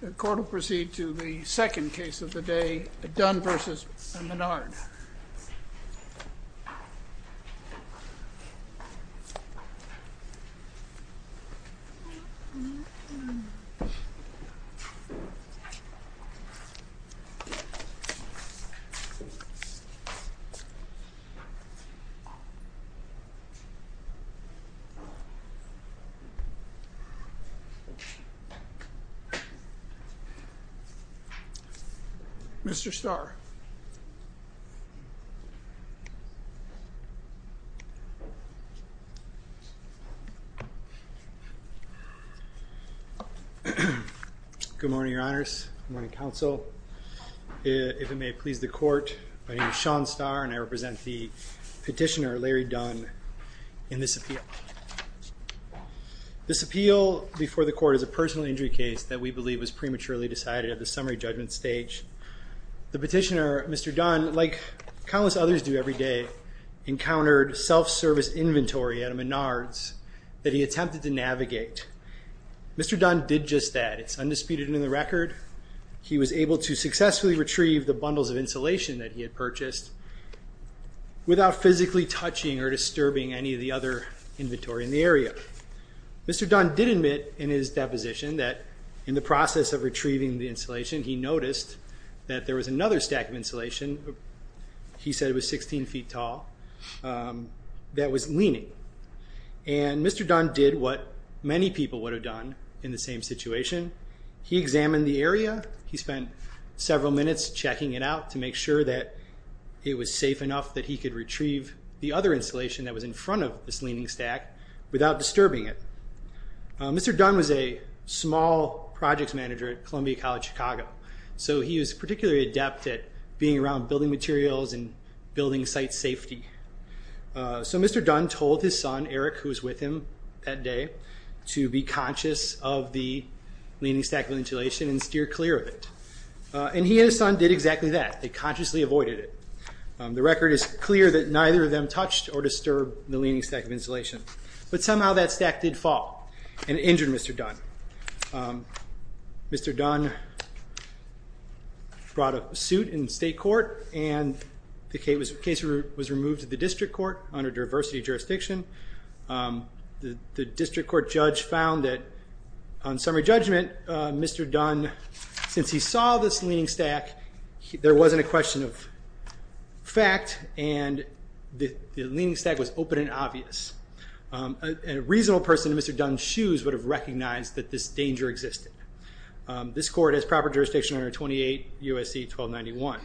The court will proceed to the second case of the day, Dunn v. Menard. Mr. Starr. Good morning, Your Honors. Good morning, Counsel. If it may please the court, my name is Sean Starr, and I represent the petitioner, Larry Dunn, in this appeal. This appeal before the court is a personal injury case that we believe was prematurely decided at the summary judgment stage. The petitioner, Mr. Dunn, like countless others do every day, encountered self-service inventory at a Menard's that he attempted to navigate. Mr. Dunn did just that. It's undisputed in the record. He was able to successfully retrieve the bundles of insulation that he had purchased without physically touching or disturbing any of the other inventory in the area. Mr. Dunn did admit in his deposition that in the process of retrieving the insulation, he noticed that there was another stack of insulation, he said it was 16 feet tall, that was leaning. And Mr. Dunn did what many people would have done in the same situation. He examined the area. He spent several minutes checking it out to make sure that it was safe enough that he could retrieve the other insulation that was in front of this leaning stack without disturbing it. Mr. Dunn was a small projects manager at Columbia College Chicago, so he was particularly adept at being around building materials and building site safety. So Mr. Dunn told his son, Eric, who was with him that day, to be conscious of the leaning stack of insulation and steer clear of it. And he and his son did exactly that. They consciously avoided it. The record is clear that neither of them touched or disturbed the leaning stack of insulation. But somehow that stack did fall and injured Mr. Dunn. Mr. Dunn brought a suit in state court and the case was removed to the district court under diversity jurisdiction. The district court judge found that on summary judgment, Mr. Dunn, since he saw this leaning stack, there wasn't a question of fact and the leaning stack was open and obvious. A reasonable person in Mr. Dunn's shoes would have recognized that this danger existed. This court has proper jurisdiction under 28 U.S.C. 1291.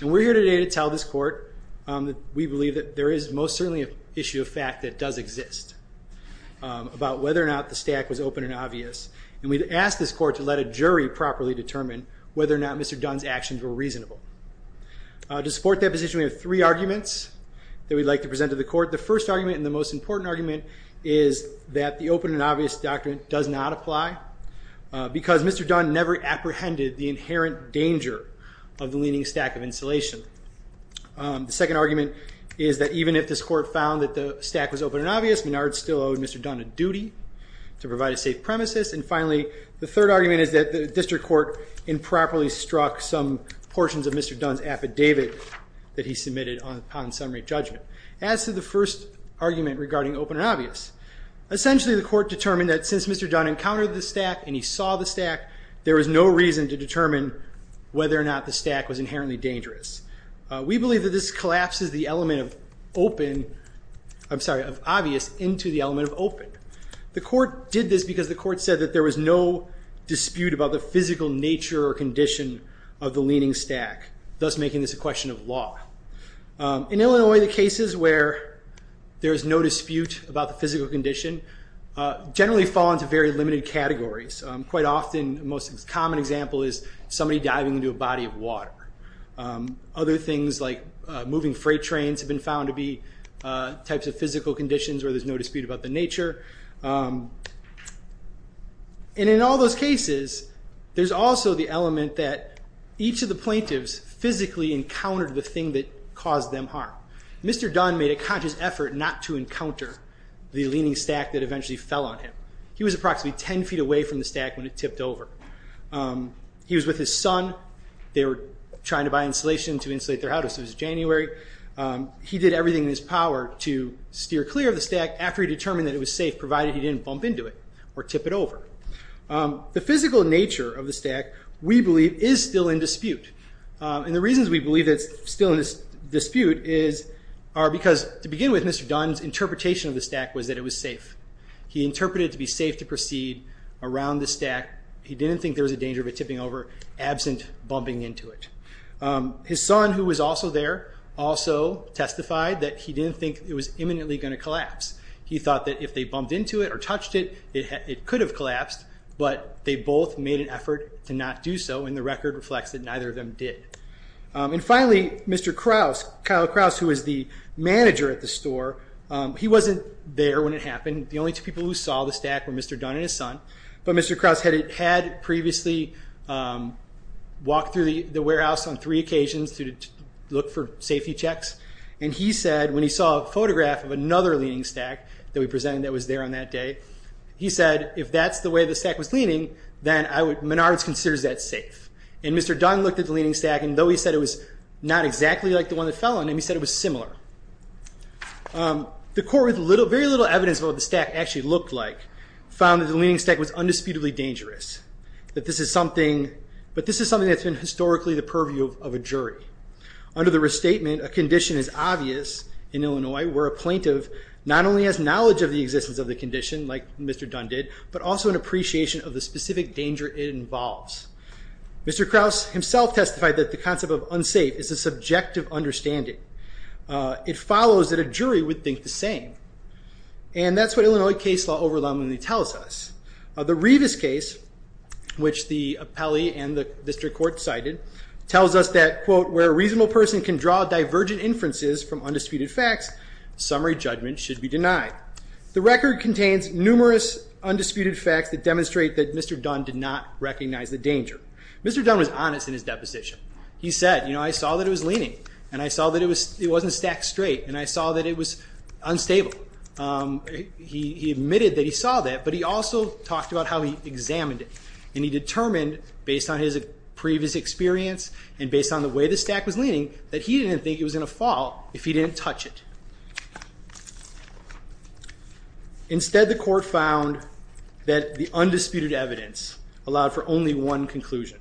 And we're here today to tell this court that we believe that there is most certainly an issue of fact that does exist about whether or not the stack was open and obvious. And we've asked this court to let a jury properly determine whether or not Mr. Dunn's actions were reasonable. To support that position, we have three arguments that we'd like to present to the court. The first argument and the most important argument is that the open and obvious doctrine does not apply. Because Mr. Dunn never apprehended the inherent danger of the leaning stack of insulation. The second argument is that even if this court found that the stack was open and obvious, Menard still owed Mr. Dunn a duty to provide a safe premises. And finally, the third argument is that the district court improperly struck some portions of Mr. Dunn's affidavit that he submitted on summary judgment. As to the first argument regarding open and obvious, essentially the court determined that since Mr. Dunn encountered the stack and he saw the stack, there was no reason to determine whether or not the stack was inherently dangerous. We believe that this collapses the element of obvious into the element of open. The court did this because the court said that there was no dispute about the physical nature or condition of the leaning stack, thus making this a question of law. In Illinois, the cases where there's no dispute about the physical condition generally fall into very limited categories. Quite often, the most common example is somebody diving into a body of water. Other things like moving freight trains have been found to be types of physical conditions where there's no dispute about the nature. And in all those cases, there's also the element that each of the plaintiffs physically encountered the thing that caused them harm. Mr. Dunn made a conscious effort not to encounter the leaning stack that eventually fell on him. He was approximately 10 feet away from the stack when it tipped over. He was with his son. They were trying to buy insulation to insulate their houses. It was January. He did everything in his power to steer clear of the stack after he determined that it was safe, provided he didn't bump into it or tip it over. The physical nature of the stack, we believe, is still in dispute. And the reasons we believe it's still in dispute are because, to begin with, Mr. Dunn's interpretation of the stack was that it was safe. He interpreted it to be safe to proceed around the stack. He didn't think there was a danger of it tipping over absent bumping into it. His son, who was also there, also testified that he didn't think it was imminently going to collapse. He thought that if they bumped into it or touched it, it could have collapsed, but they both made an effort to not do so, and the record reflects that neither of them did. And finally, Mr. Krause, Kyle Krause, who was the manager at the store, he wasn't there when it happened. The only two people who saw the stack were Mr. Dunn and his son. But Mr. Krause had previously walked through the warehouse on three occasions to look for safety checks, and he said, when he saw a photograph of another leaning stack that we presented that was there on that day, he said, if that's the way the stack was leaning, then Menards considers that safe. And Mr. Dunn looked at the leaning stack, and though he said it was not exactly like the one that fell on him, he said it was similar. The court, with very little evidence of what the stack actually looked like, found that the leaning stack was undisputably dangerous, but this is something that's been historically the purview of a jury. Under the restatement, a condition is obvious in Illinois where a plaintiff not only has knowledge of the existence of the condition, like Mr. Dunn did, but also an appreciation of the specific danger it involves. Mr. Krause himself testified that the concept of unsafe is a subjective understanding. It follows that a jury would think the same. And that's what Illinois case law overwhelmingly tells us. The Rivas case, which the appellee and the district court cited, tells us that, quote, where a reasonable person can draw divergent inferences from undisputed facts, summary judgment should be denied. The record contains numerous undisputed facts that demonstrate that Mr. Dunn did not recognize the danger. Mr. Dunn was honest in his deposition. He said, you know, I saw that it was leaning, and I saw that it wasn't stacked straight, and I saw that it was unstable. He admitted that he saw that, but he also talked about how he examined it, and he determined, based on his previous experience and based on the way the stack was leaning, that he didn't think it was going to fall if he didn't touch it. Instead, the court found that the undisputed evidence allowed for only one conclusion.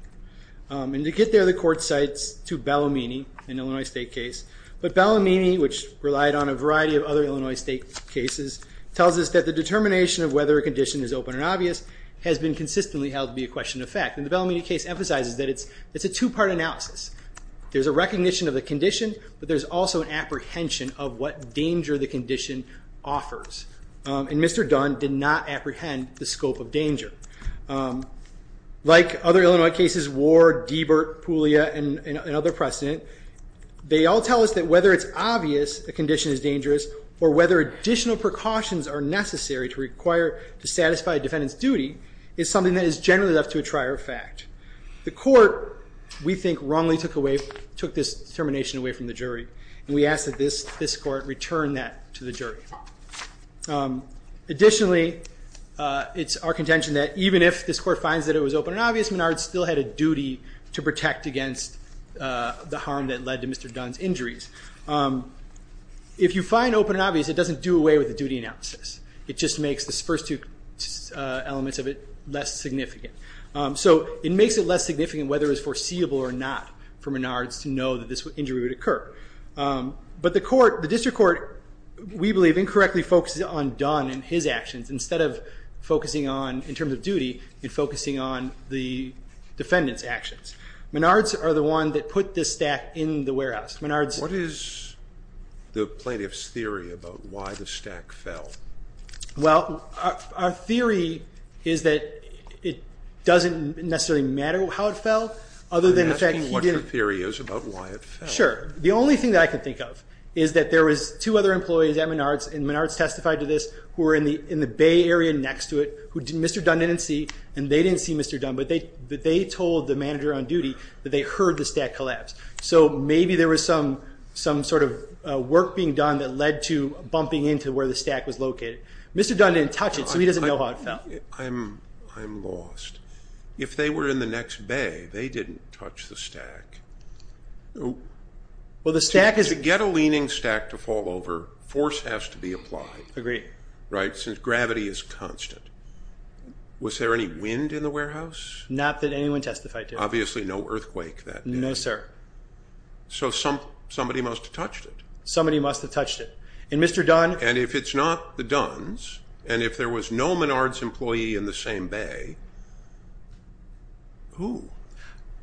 And to get there, the court cites to Bellomini, an Illinois state case. But Bellomini, which relied on a variety of other Illinois state cases, tells us that the determination of whether a condition is open and obvious has been consistently held to be a question of fact. And the Bellomini case emphasizes that it's a two-part analysis. There's a recognition of the condition, but there's also an apprehension of what danger the condition offers. And Mr. Dunn did not apprehend the scope of danger. Like other Illinois cases, Ward, Deibert, Puglia, and other precedent, they all tell us that whether it's obvious a condition is dangerous, or whether additional precautions are necessary to require to satisfy a defendant's duty, is something that is generally left to a trier of fact. The court, we think, wrongly took this determination away from the jury. And we ask that this court return that to the jury. Additionally, it's our contention that even if this court finds that it was open and obvious, Menard still had a duty to protect against the harm that led to Mr. Dunn's injuries. If you find open and obvious, it doesn't do away with the duty analysis. It just makes the first two elements of it less significant. So it makes it less significant whether it was foreseeable or not for Menard to know that this injury would occur. But the court, the district court, we believe, incorrectly focuses on Dunn and his actions, instead of focusing on, in terms of duty, and focusing on the defendant's actions. Menard's are the one that put this stack in the warehouse. What is the plaintiff's theory about why the stack fell? Well, our theory is that it doesn't necessarily matter how it fell, other than the fact he didn't- I'm asking what your theory is about why it fell. Sure. The only thing that I can think of is that there was two other employees at Menard's, and Menard's testified to this, who were in the Bay Area next to it, who Mr. Dunn didn't see, and they didn't see Mr. Dunn, but they told the manager on duty that they heard the stack collapse. So maybe there was some sort of work being done that led to bumping into where the stack was located. Mr. Dunn didn't touch it, so he doesn't know how it fell. I'm lost. If they were in the next bay, they didn't touch the stack. Well, the stack is- To get a leaning stack to fall over, force has to be applied. Agreed. Right? Since gravity is constant. Was there any wind in the warehouse? Not that anyone testified to. Obviously, no earthquake that day. No, sir. So somebody must have touched it. Somebody must have touched it. And Mr. Dunn- And if it's not the Dunn's, and if there was no Menard's employee in the same bay, who?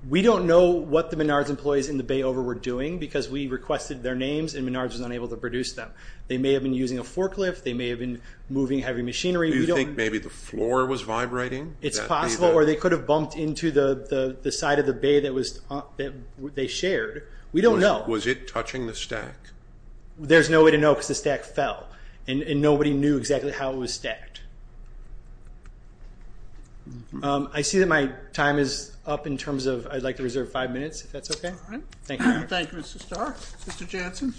We don't know what the Menard's employees in the bay over were doing, because we requested their names, and Menard's was unable to produce them. They may have been using a forklift. They may have been moving heavy machinery. Do you think maybe the floor was vibrating? It's possible, or they could have bumped into the side of the bay that they shared. We don't know. Was it touching the stack? There's no way to know because the stack fell, and nobody knew exactly how it was stacked. I see that my time is up in terms of I'd like to reserve five minutes, if that's okay. All right. Thank you. Thank you, Mr. Starr. Mr. Janssen?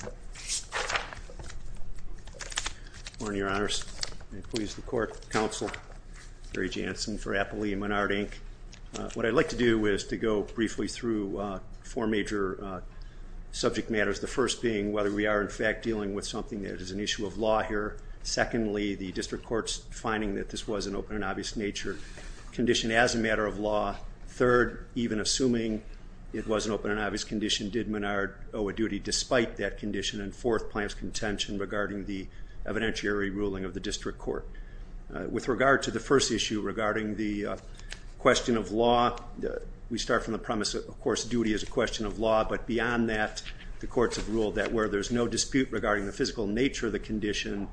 Good morning, Your Honors, employees of the court, counsel, Gary Janssen for Appley and Menard, Inc. What I'd like to do is to go briefly through four major subject matters, the first being whether we are, in fact, dealing with something that is an issue of law here. Secondly, the district court's finding that this was an open and obvious nature condition as a matter of law. Third, even assuming it was an open and obvious condition, did Menard owe a duty despite that condition? And fourth, plaintiff's contention regarding the evidentiary ruling of the district court. With regard to the first issue regarding the question of law, we start from the premise, of course, duty is a question of law, but beyond that, the courts have ruled that where there's no dispute regarding the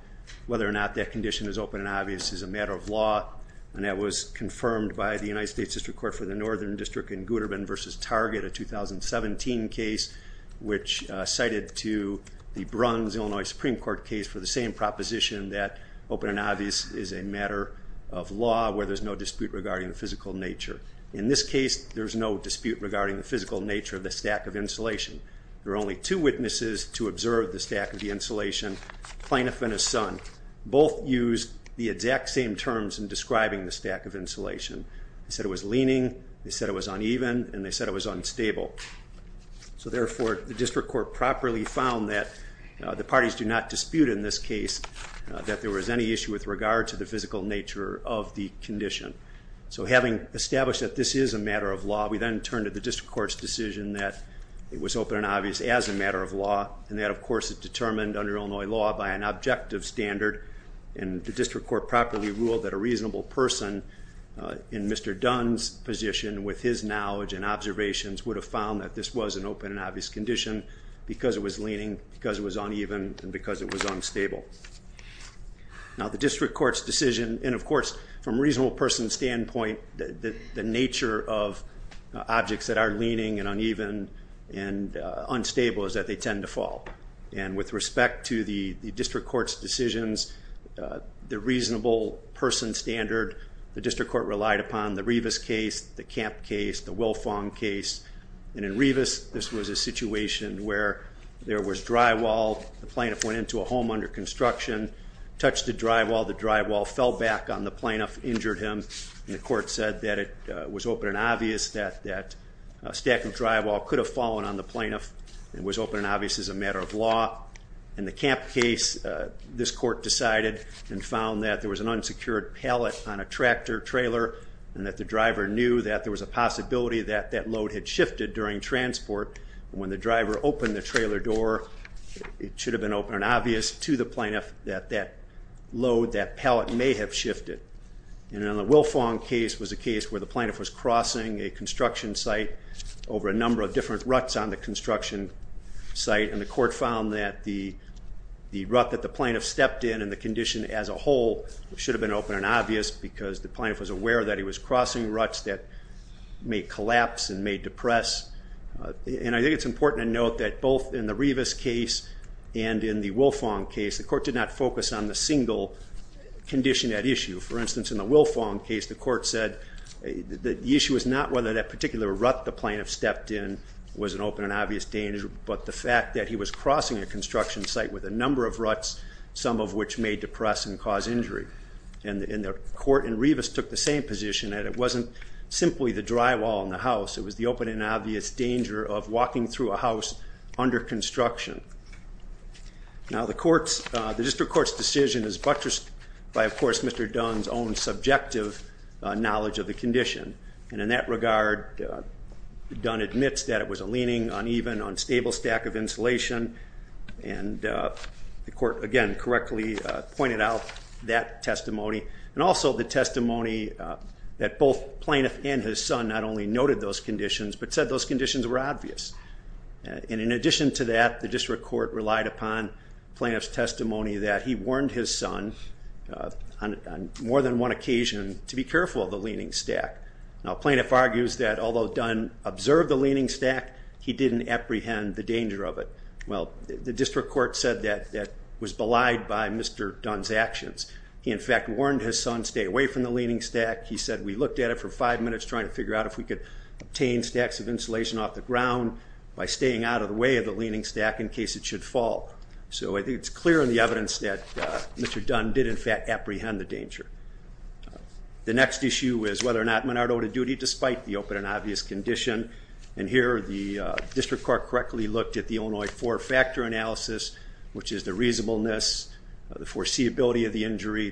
whether or not that condition is open and obvious is a matter of law, and that was confirmed by the United States District Court for the Northern District in Gooderman v. Target, a 2017 case which cited to the Bruns, Illinois Supreme Court case, for the same proposition that open and obvious is a matter of law where there's no dispute regarding the physical nature. In this case, there's no dispute regarding the physical nature of the stack of insulation. There are only two witnesses to observe the stack of the insulation, Plaintiff and his son. Both used the exact same terms in describing the stack of insulation. They said it was leaning, they said it was uneven, and they said it was unstable. So therefore, the district court properly found that the parties do not dispute in this case that there was any issue with regard to the physical nature of the condition. So having established that this is a matter of law, we then turn to the district court's decision that it was open and obvious as a matter of law, and that, of course, it determined under Illinois law by an objective standard, and the district court properly ruled that a reasonable person in Mr. Dunn's position with his knowledge and observations would have found that this was an open and obvious condition because it was leaning, because it was uneven, and because it was unstable. Now the district court's decision, and of course, from a reasonable person's standpoint, the nature of objects that are leaning and uneven and unstable is that they tend to fall. And with respect to the district court's decisions, the reasonable person standard, the district court relied upon the Rivas case, the Camp case, the Wilfong case. And in Rivas, this was a situation where there was drywall. The plaintiff went into a home under construction, touched the drywall. The drywall fell back on the plaintiff, injured him, and the court said that it was open and obvious that a stack of drywall could have fallen on the plaintiff. It was open and obvious as a matter of law. In the Camp case, this court decided and found that there was an unsecured pallet on a tractor trailer and that the driver knew that there was a possibility that that load had shifted during transport. When the driver opened the trailer door, it should have been open and obvious to the plaintiff that that load, that pallet, may have shifted. And in the Wilfong case was a case where the plaintiff was crossing a construction site over a number of different ruts on the construction site, and the court found that the rut that the plaintiff stepped in and the condition as a whole should have been open and obvious because the plaintiff was aware that he was crossing ruts that may collapse and may depress. And I think it's important to note that both in the Rivas case and in the Wilfong case, the court did not focus on the single condition at issue. For instance, in the Wilfong case, the court said the issue was not whether that particular rut the plaintiff stepped in was an open and obvious danger, but the fact that he was crossing a construction site with a number of ruts, some of which may depress and cause injury. And the court in Rivas took the same position, that it wasn't simply the drywall in the house. It was the open and obvious danger of walking through a house under construction. Now, the district court's decision is buttressed by, of course, Mr. Dunn's own subjective knowledge of the condition. And in that regard, Dunn admits that it was a leaning, uneven, unstable stack of insulation, and the court, again, correctly pointed out that testimony and also the testimony that both plaintiff and his son not only noted those conditions but said those conditions were obvious. And in addition to that, the district court relied upon plaintiff's testimony that he warned his son on more than one occasion to be careful of the leaning stack. Now, a plaintiff argues that although Dunn observed the leaning stack, he didn't apprehend the danger of it. Well, the district court said that that was belied by Mr. Dunn's actions. He, in fact, warned his son, stay away from the leaning stack. He said, we looked at it for five minutes trying to figure out if we could obtain stacks of insulation off the ground by staying out of the way of the leaning stack in case it should fall. So I think it's clear in the evidence that Mr. Dunn did, in fact, apprehend the danger. The next issue is whether or not Menard owed a duty despite the open and obvious condition. And here the district court correctly looked at the Illinois four-factor analysis, which is the reasonableness, the foreseeability of the injury,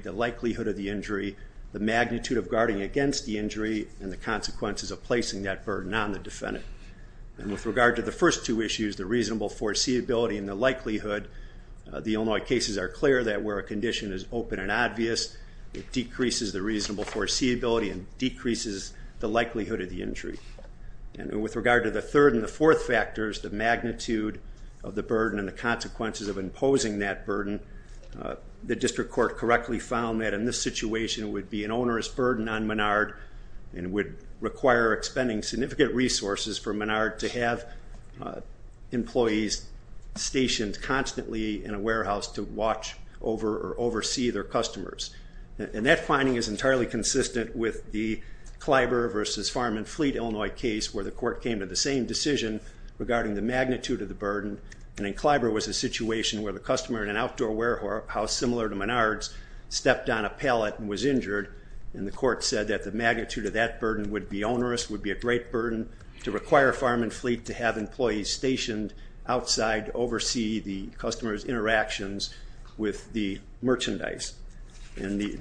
and the consequences of placing that burden on the defendant. And with regard to the first two issues, the reasonable foreseeability and the likelihood, the Illinois cases are clear that where a condition is open and obvious, it decreases the reasonable foreseeability and decreases the likelihood of the injury. And with regard to the third and the fourth factors, the magnitude of the burden and the consequences of imposing that burden, the district court correctly found that in this situation it would be an onerous burden on Menard and would require expending significant resources for Menard to have employees stationed constantly in a warehouse to watch over or oversee their customers. And that finding is entirely consistent with the Kleiber versus Farm and Fleet Illinois case where the court came to the same decision regarding the magnitude of the burden, and in Kleiber was a situation where the customer in an outdoor warehouse similar to Menard's stepped on a pallet and was injured, and the court said that the magnitude of that burden would be onerous, would be a great burden to require Farm and Fleet to have employees stationed outside to oversee the customer's interactions with the merchandise. And the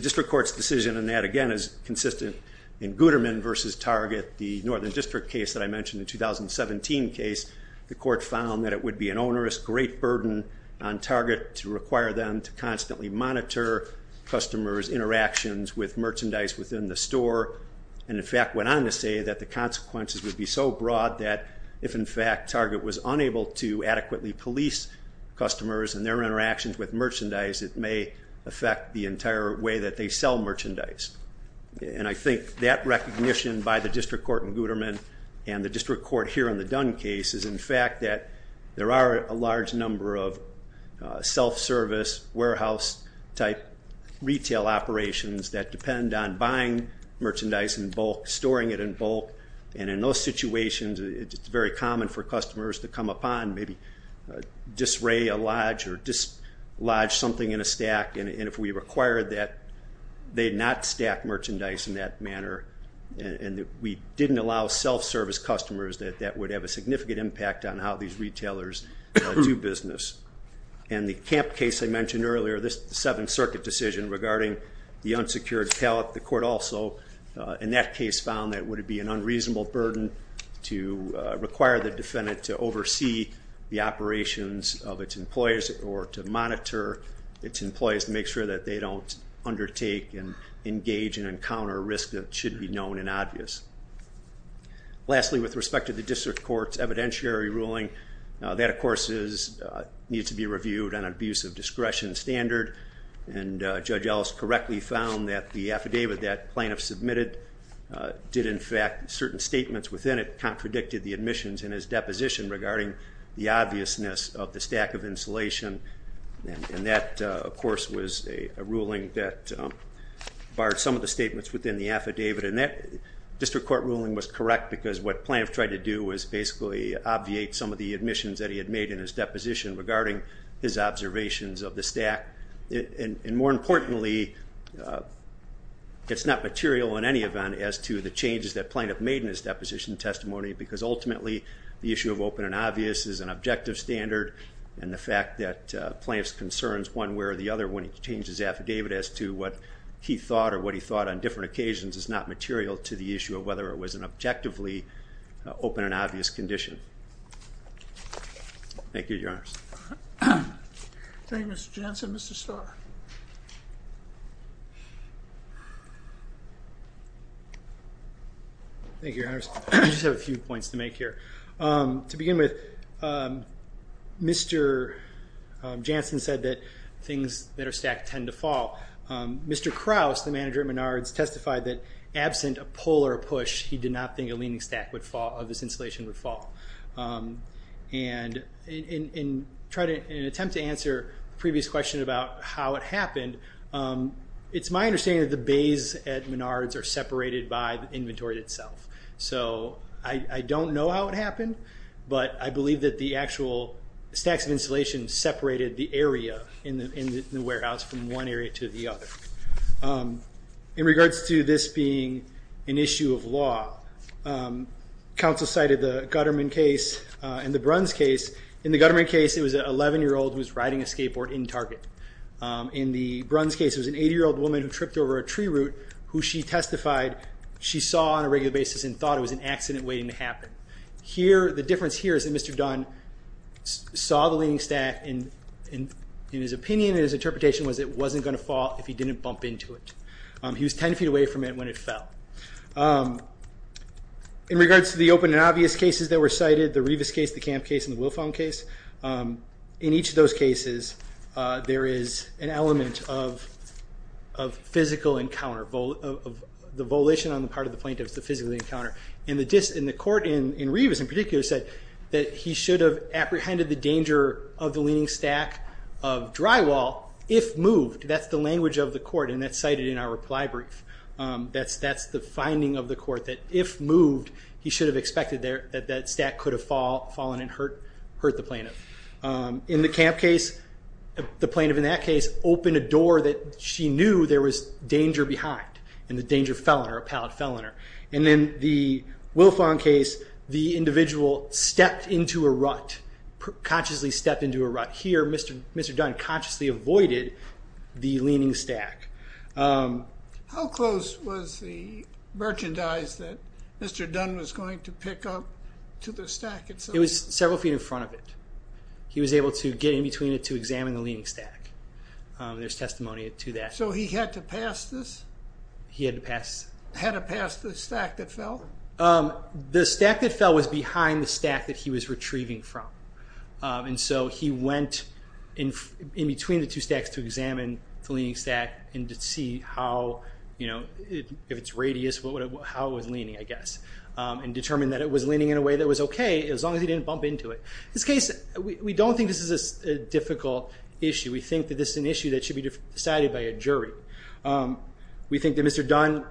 district court's decision on that, again, is consistent in Guterman versus Target, the Northern District case that I mentioned, the 2017 case. The court found that it would be an onerous, great burden on Target to require them to constantly monitor customers' interactions with merchandise within the store, and in fact went on to say that the consequences would be so broad that if in fact Target was unable to adequately police customers and their interactions with merchandise, it may affect the entire way that they sell merchandise. And I think that recognition by the district court in Guterman and the district court here in the Dunn case is in fact that there are a large number of self-service warehouse-type retail operations that depend on buying merchandise in bulk, storing it in bulk, and in those situations it's very common for customers to come upon and maybe disarray a lodge or dislodge something in a stack, and if we required that they not stack merchandise in that manner and we didn't allow self-service customers, that that would have a significant impact on how these retailers do business. And the Camp case I mentioned earlier, this Seventh Circuit decision regarding the unsecured pallet, the court also in that case found that it would be an unreasonable burden to require the defendant to oversee the operations of its employees or to monitor its employees to make sure that they don't undertake and engage and encounter a risk that should be known and obvious. Lastly, with respect to the district court's evidentiary ruling, that of course needs to be reviewed on an abuse of discretion standard and Judge Ellis correctly found that the affidavit that plaintiff submitted did in fact certain statements within it contradicted the admissions in his deposition regarding the obviousness of the stack of insulation and that of course was a ruling that barred some of the statements within the affidavit and that district court ruling was correct because what plaintiff tried to do was basically obviate some of the admissions that he had made in his deposition regarding his observations of the stack. And more importantly, it's not material in any event as to the changes that plaintiff made in his deposition testimony because ultimately the issue of open and obvious is an objective standard and the fact that plaintiff's concerns one way or the other when he changed his affidavit as to what he thought or what he thought on different occasions is not material to the issue of whether it was an objectively open and obvious condition. Thank you, Your Honors. James Janssen, Mr. Starr. Thank you, Your Honors. I just have a few points to make here. To begin with, Mr. Janssen said that things that are stacked tend to fall. Mr. Krause, the manager at Menards, testified that absent a pull or a push, he did not think a leaning stack of this installation would fall. And in an attempt to answer a previous question about how it happened, it's my understanding that the bays at Menards are separated by the inventory itself. So I don't know how it happened, but I believe that the actual stacks of installation separated the area in the warehouse from one area to the other. In regards to this being an issue of law, counsel cited the Gutterman case and the Bruns case. In the Gutterman case, it was an 11-year-old who was riding a skateboard in Target. In the Bruns case, it was an 80-year-old woman who tripped over a tree root who she testified she saw on a regular basis and thought it was an accident waiting to happen. The difference here is that Mr. Dunn saw the leaning stack and his opinion and his interpretation was it wasn't going to fall if he didn't bump into it. He was 10 feet away from it when it fell. In regards to the open and obvious cases that were cited, the Rivas case, the Kamp case, and the Wilfong case, in each of those cases there is an element of physical encounter, the volition on the part of the plaintiff is the physical encounter. The court in Rivas in particular said that he should have apprehended the danger of the leaning stack of drywall if moved. That's the language of the court, and that's cited in our reply brief. That's the finding of the court, that if moved, he should have expected that stack could have fallen and hurt the plaintiff. In the Kamp case, the plaintiff in that case opened a door that she knew there was danger behind, and the danger fell on her, a pallet fell on her. And in the Wilfong case, the individual stepped into a rut, consciously stepped into a rut. Here, Mr. Dunn consciously avoided the leaning stack. How close was the merchandise that Mr. Dunn was going to pick up to the stack? It was several feet in front of it. He was able to get in between it to examine the leaning stack. There's testimony to that. So he had to pass this? He had to pass the stack that fell? The stack that fell was behind the stack that he was retrieving from. And so he went in between the two stacks to examine the leaning stack and to see how, if it's radius, how it was leaning, I guess, and determined that it was leaning in a way that was okay as long as he didn't bump into it. In this case, we don't think this is a difficult issue. We think that this is an issue that should be decided by a jury. We think that Mr. Dunn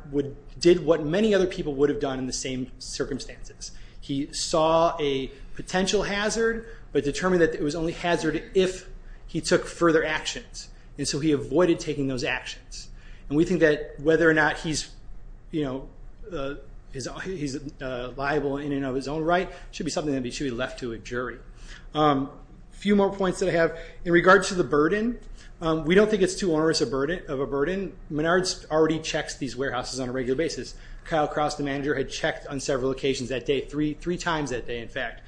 did what many other people would have done in the same circumstances. He saw a potential hazard but determined that it was only hazard if he took further actions. And so he avoided taking those actions. And we think that whether or not he's liable in and of his own right should be something that should be left to a jury. A few more points that I have. In regards to the burden, we don't think it's too onerous of a burden. Menard already checks these warehouses on a regular basis. Kyle Krause, the manager, had checked on several occasions that day, three times that day, in fact.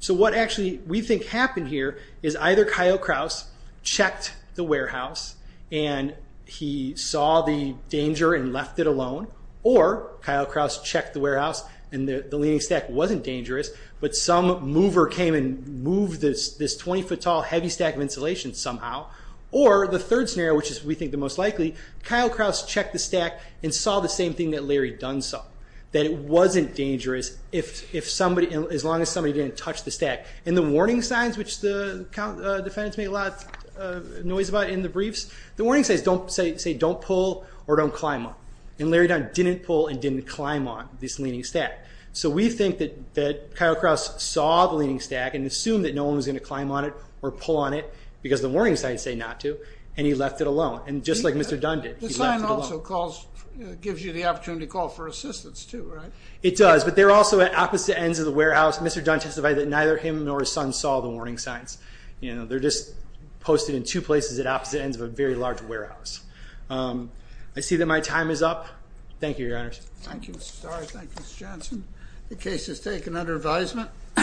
So what actually we think happened here is either Kyle Krause checked the warehouse and he saw the danger and left it alone, or Kyle Krause checked the warehouse and the leaning stack wasn't dangerous but some mover came and moved this 20-foot-tall heavy stack of insulation somehow, or the third scenario, which is we think the most likely, Kyle Krause checked the stack and saw the same thing that Larry Dunn saw, that it wasn't dangerous as long as somebody didn't touch the stack. And the warning signs, which the defendants make a lot of noise about in the briefs, the warning signs say don't pull or don't climb on. And Larry Dunn didn't pull and didn't climb on this leaning stack. So we think that Kyle Krause saw the leaning stack and assumed that no one was going to climb on it or pull on it because the warning signs say not to, and he left it alone, just like Mr. Dunn did. The sign also gives you the opportunity to call for assistance too, right? It does, but they're also at opposite ends of the warehouse. Mr. Dunn testified that neither him nor his son saw the warning signs. They're just posted in two places at opposite ends of a very large warehouse. I see that my time is up. Thank you, Your Honors. Thank you, Mr. Starr. Thank you, Mr. Johnson. The case is taken under advisement.